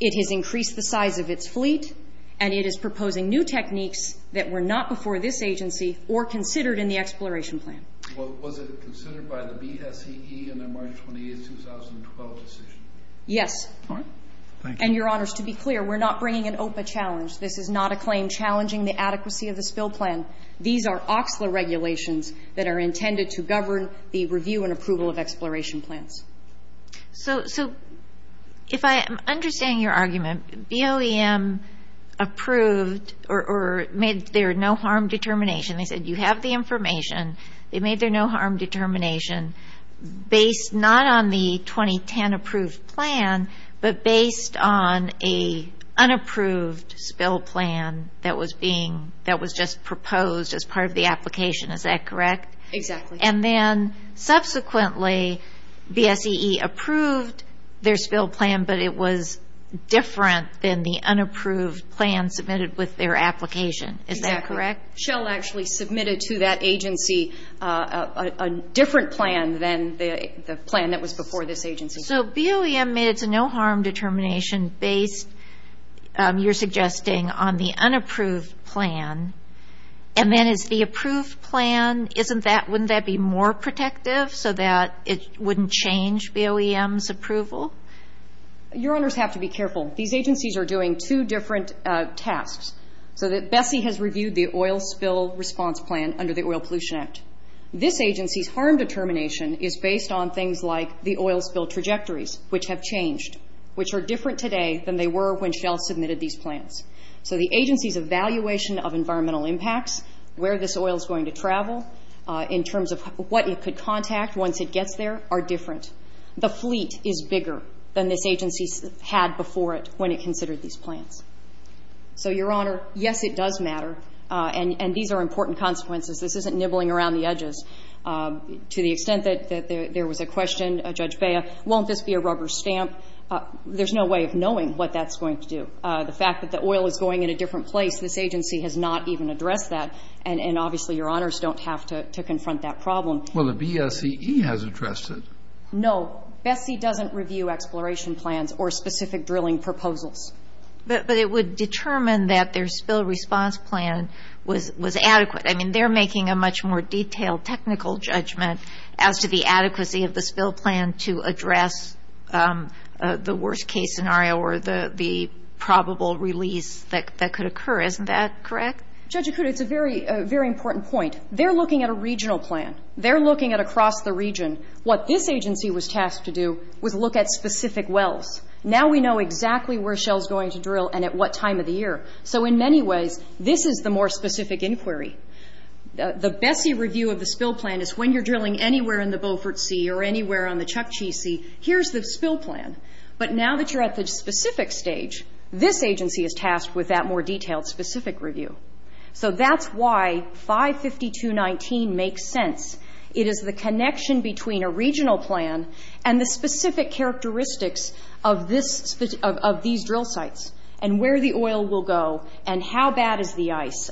It has increased the size of its fleet. And it is proposing new techniques that were not before this agency or considered in the exploration plan. Was it considered by the BSEE in the March 28, 2012 decision? Yes. All right. Thank you. And, Your Honors, to be clear, we're not bringing an OPA challenge. This is not a claim challenging the adequacy of the spill plan. These are OCSLA regulations that are intended to govern the review and approval of exploration plans. So if I am understanding your argument, BOEM approved or made their no-harm determination. They said you have the information. They made their no-harm determination. Based not on the 2010 approved plan, but based on an unapproved spill plan that was just proposed as part of the application. Is that correct? Exactly. And then, subsequently, BSEE approved their spill plan, but it was different than the unapproved plan submitted with their application. Is that correct? Exactly. So BSEE still actually submitted to that agency a different plan than the plan that was before this agency. So BOEM made its no-harm determination based, you're suggesting, on the unapproved plan. And then is the approved plan, wouldn't that be more protective so that it wouldn't change BOEM's approval? Your Honors have to be careful. These agencies are doing two different tasks. So BSEE has reviewed the oil spill response plan under the Oil Pollution Act. This agency's harm determination is based on things like the oil spill trajectories, which have changed, which are different today than they were when Shell submitted these plans. So the agency's evaluation of environmental impacts, where this oil is going to travel, in terms of what it could contact once it gets there, are different. The fleet is bigger than this agency had before it when it considered these plans. So, Your Honor, yes, it does matter. And these are important consequences. This isn't nibbling around the edges. To the extent that there was a question, Judge Bea, won't this be a rubber stamp? There's no way of knowing what that's going to do. The fact that the oil is going in a different place, this agency has not even addressed that, and obviously, Your Honors don't have to confront that problem. Well, the BSEE has addressed it. No. BSEE doesn't review exploration plans or specific drilling proposals. But it would determine that their spill response plan was adequate. I mean, they're making a much more detailed technical judgment as to the adequacy of the spill plan to address the worst-case scenario or the probable release that could occur. Isn't that correct? Judge Acuda, it's a very important point. They're looking at a regional plan. They're looking at across the region. What this agency was tasked to do was look at specific wells. Now we know exactly where Shell's going to drill and at what time of the year. So in many ways, this is the more specific inquiry. The BSEE review of the spill plan is when you're drilling anywhere in the Beaufort Sea or anywhere on the Chukchi Sea, here's the spill plan. But now that you're at the specific stage, this agency is tasked with that more detailed, specific review. So that's why 552.19 makes sense. It is the connection between a regional plan and the specific characteristics of these drill sites and where the oil will go and how bad is the ice.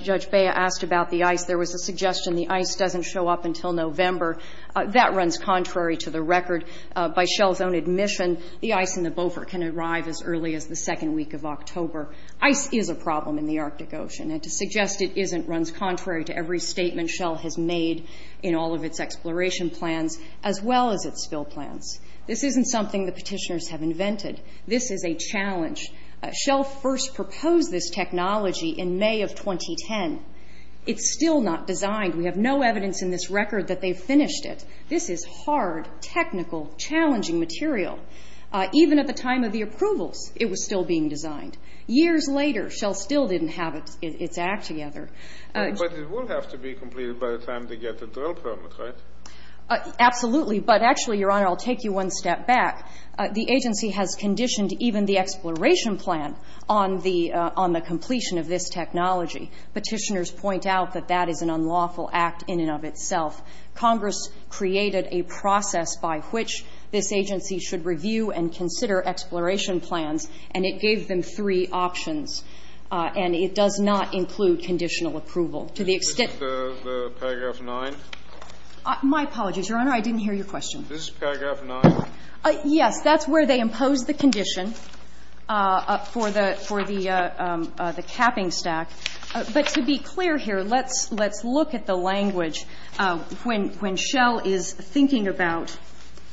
Judge Bea asked about the ice. There was a suggestion the ice doesn't show up until November. That runs contrary to the record. By Shell's own admission, the ice in the Beaufort can arrive as early as the second week of October. Ice is a problem in the Arctic Ocean. And to suggest it isn't runs contrary to every statement Shell has made in all of its exploration plans as well as its spill plans. This isn't something the petitioners have invented. This is a challenge. Shell first proposed this technology in May of 2010. It's still not designed. We have no evidence in this record that they've finished it. This is hard, technical, challenging material. Even at the time of the approvals, it was still being designed. Years later, Shell still didn't have its act together. But it will have to be completed by the time they get the drill permit, right? Absolutely. But actually, Your Honor, I'll take you one step back. The agency has conditioned even the exploration plan on the completion of this technology. Petitioners point out that that is an unlawful act in and of itself. Congress created a process by which this agency should review and consider exploration plans, and it gave them three options. And it does not include conditional approval. To the extent that the paragraph 9. My apologies, Your Honor. I didn't hear your question. This is paragraph 9? Yes. That's where they impose the condition for the capping stack. But to be clear here, let's look at the language. When Shell is thinking about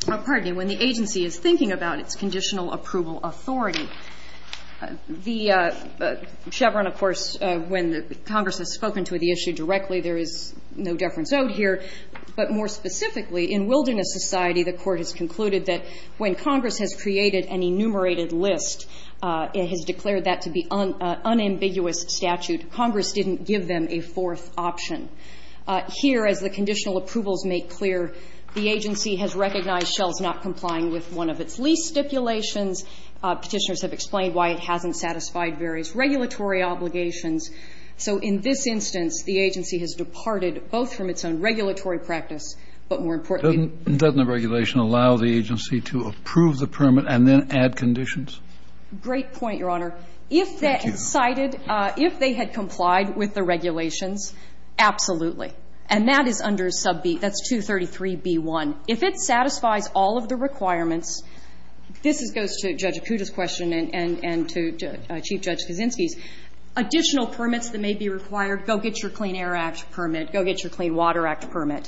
or, pardon me, when the agency is thinking about its conditional approval authority, the Chevron, of course, when Congress has spoken to the issue directly, there is no deference out here. But more specifically, in Wilderness Society, the Court has concluded that when Congress has created an enumerated list, it has declared that to be unambiguous statute. Congress didn't give them a fourth option. Here, as the conditional approvals make clear, the agency has recognized Shell's not complying with one of its lease stipulations. Petitioners have explained why it hasn't satisfied various regulatory obligations. So in this instance, the agency has departed both from its own regulatory practice, but more importantly to the agency. Doesn't the regulation allow the agency to approve the permit and then add conditions? Great point, Your Honor. Thank you. If they had cited, if they had complied with the regulations, absolutely. And that is under sub B. That's 233b1. If it satisfies all of the requirements, this goes to Judge Acuda's question and to Chief Judge Kaczynski's. Additional permits that may be required, go get your Clean Air Act permit. Go get your Clean Water Act permit.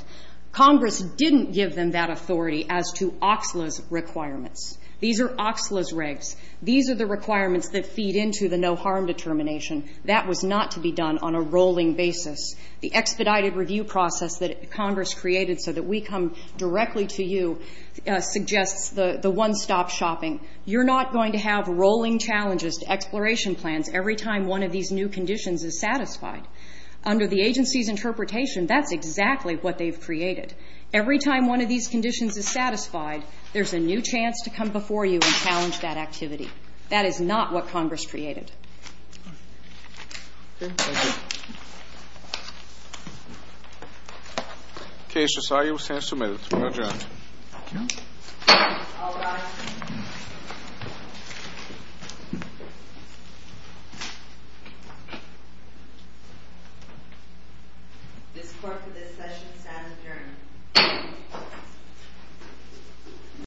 Congress didn't give them that authority as to Oxla's requirements. These are Oxla's regs. These are the requirements that feed into the no harm determination. That was not to be done on a rolling basis. The expedited review process that Congress created so that we come directly to you suggests the one-stop shopping. You're not going to have rolling challenges to exploration plans every time one of these new conditions is satisfied. Under the agency's interpretation, that's exactly what they've created. Every time one of these conditions is satisfied, there's a new chance to come before you and challenge that activity. That is not what Congress created. Okay, thank you. Okay, so sorry. It was hand-submitted. We'll adjourn. Thank you. All rise. This court for this session stands adjourned.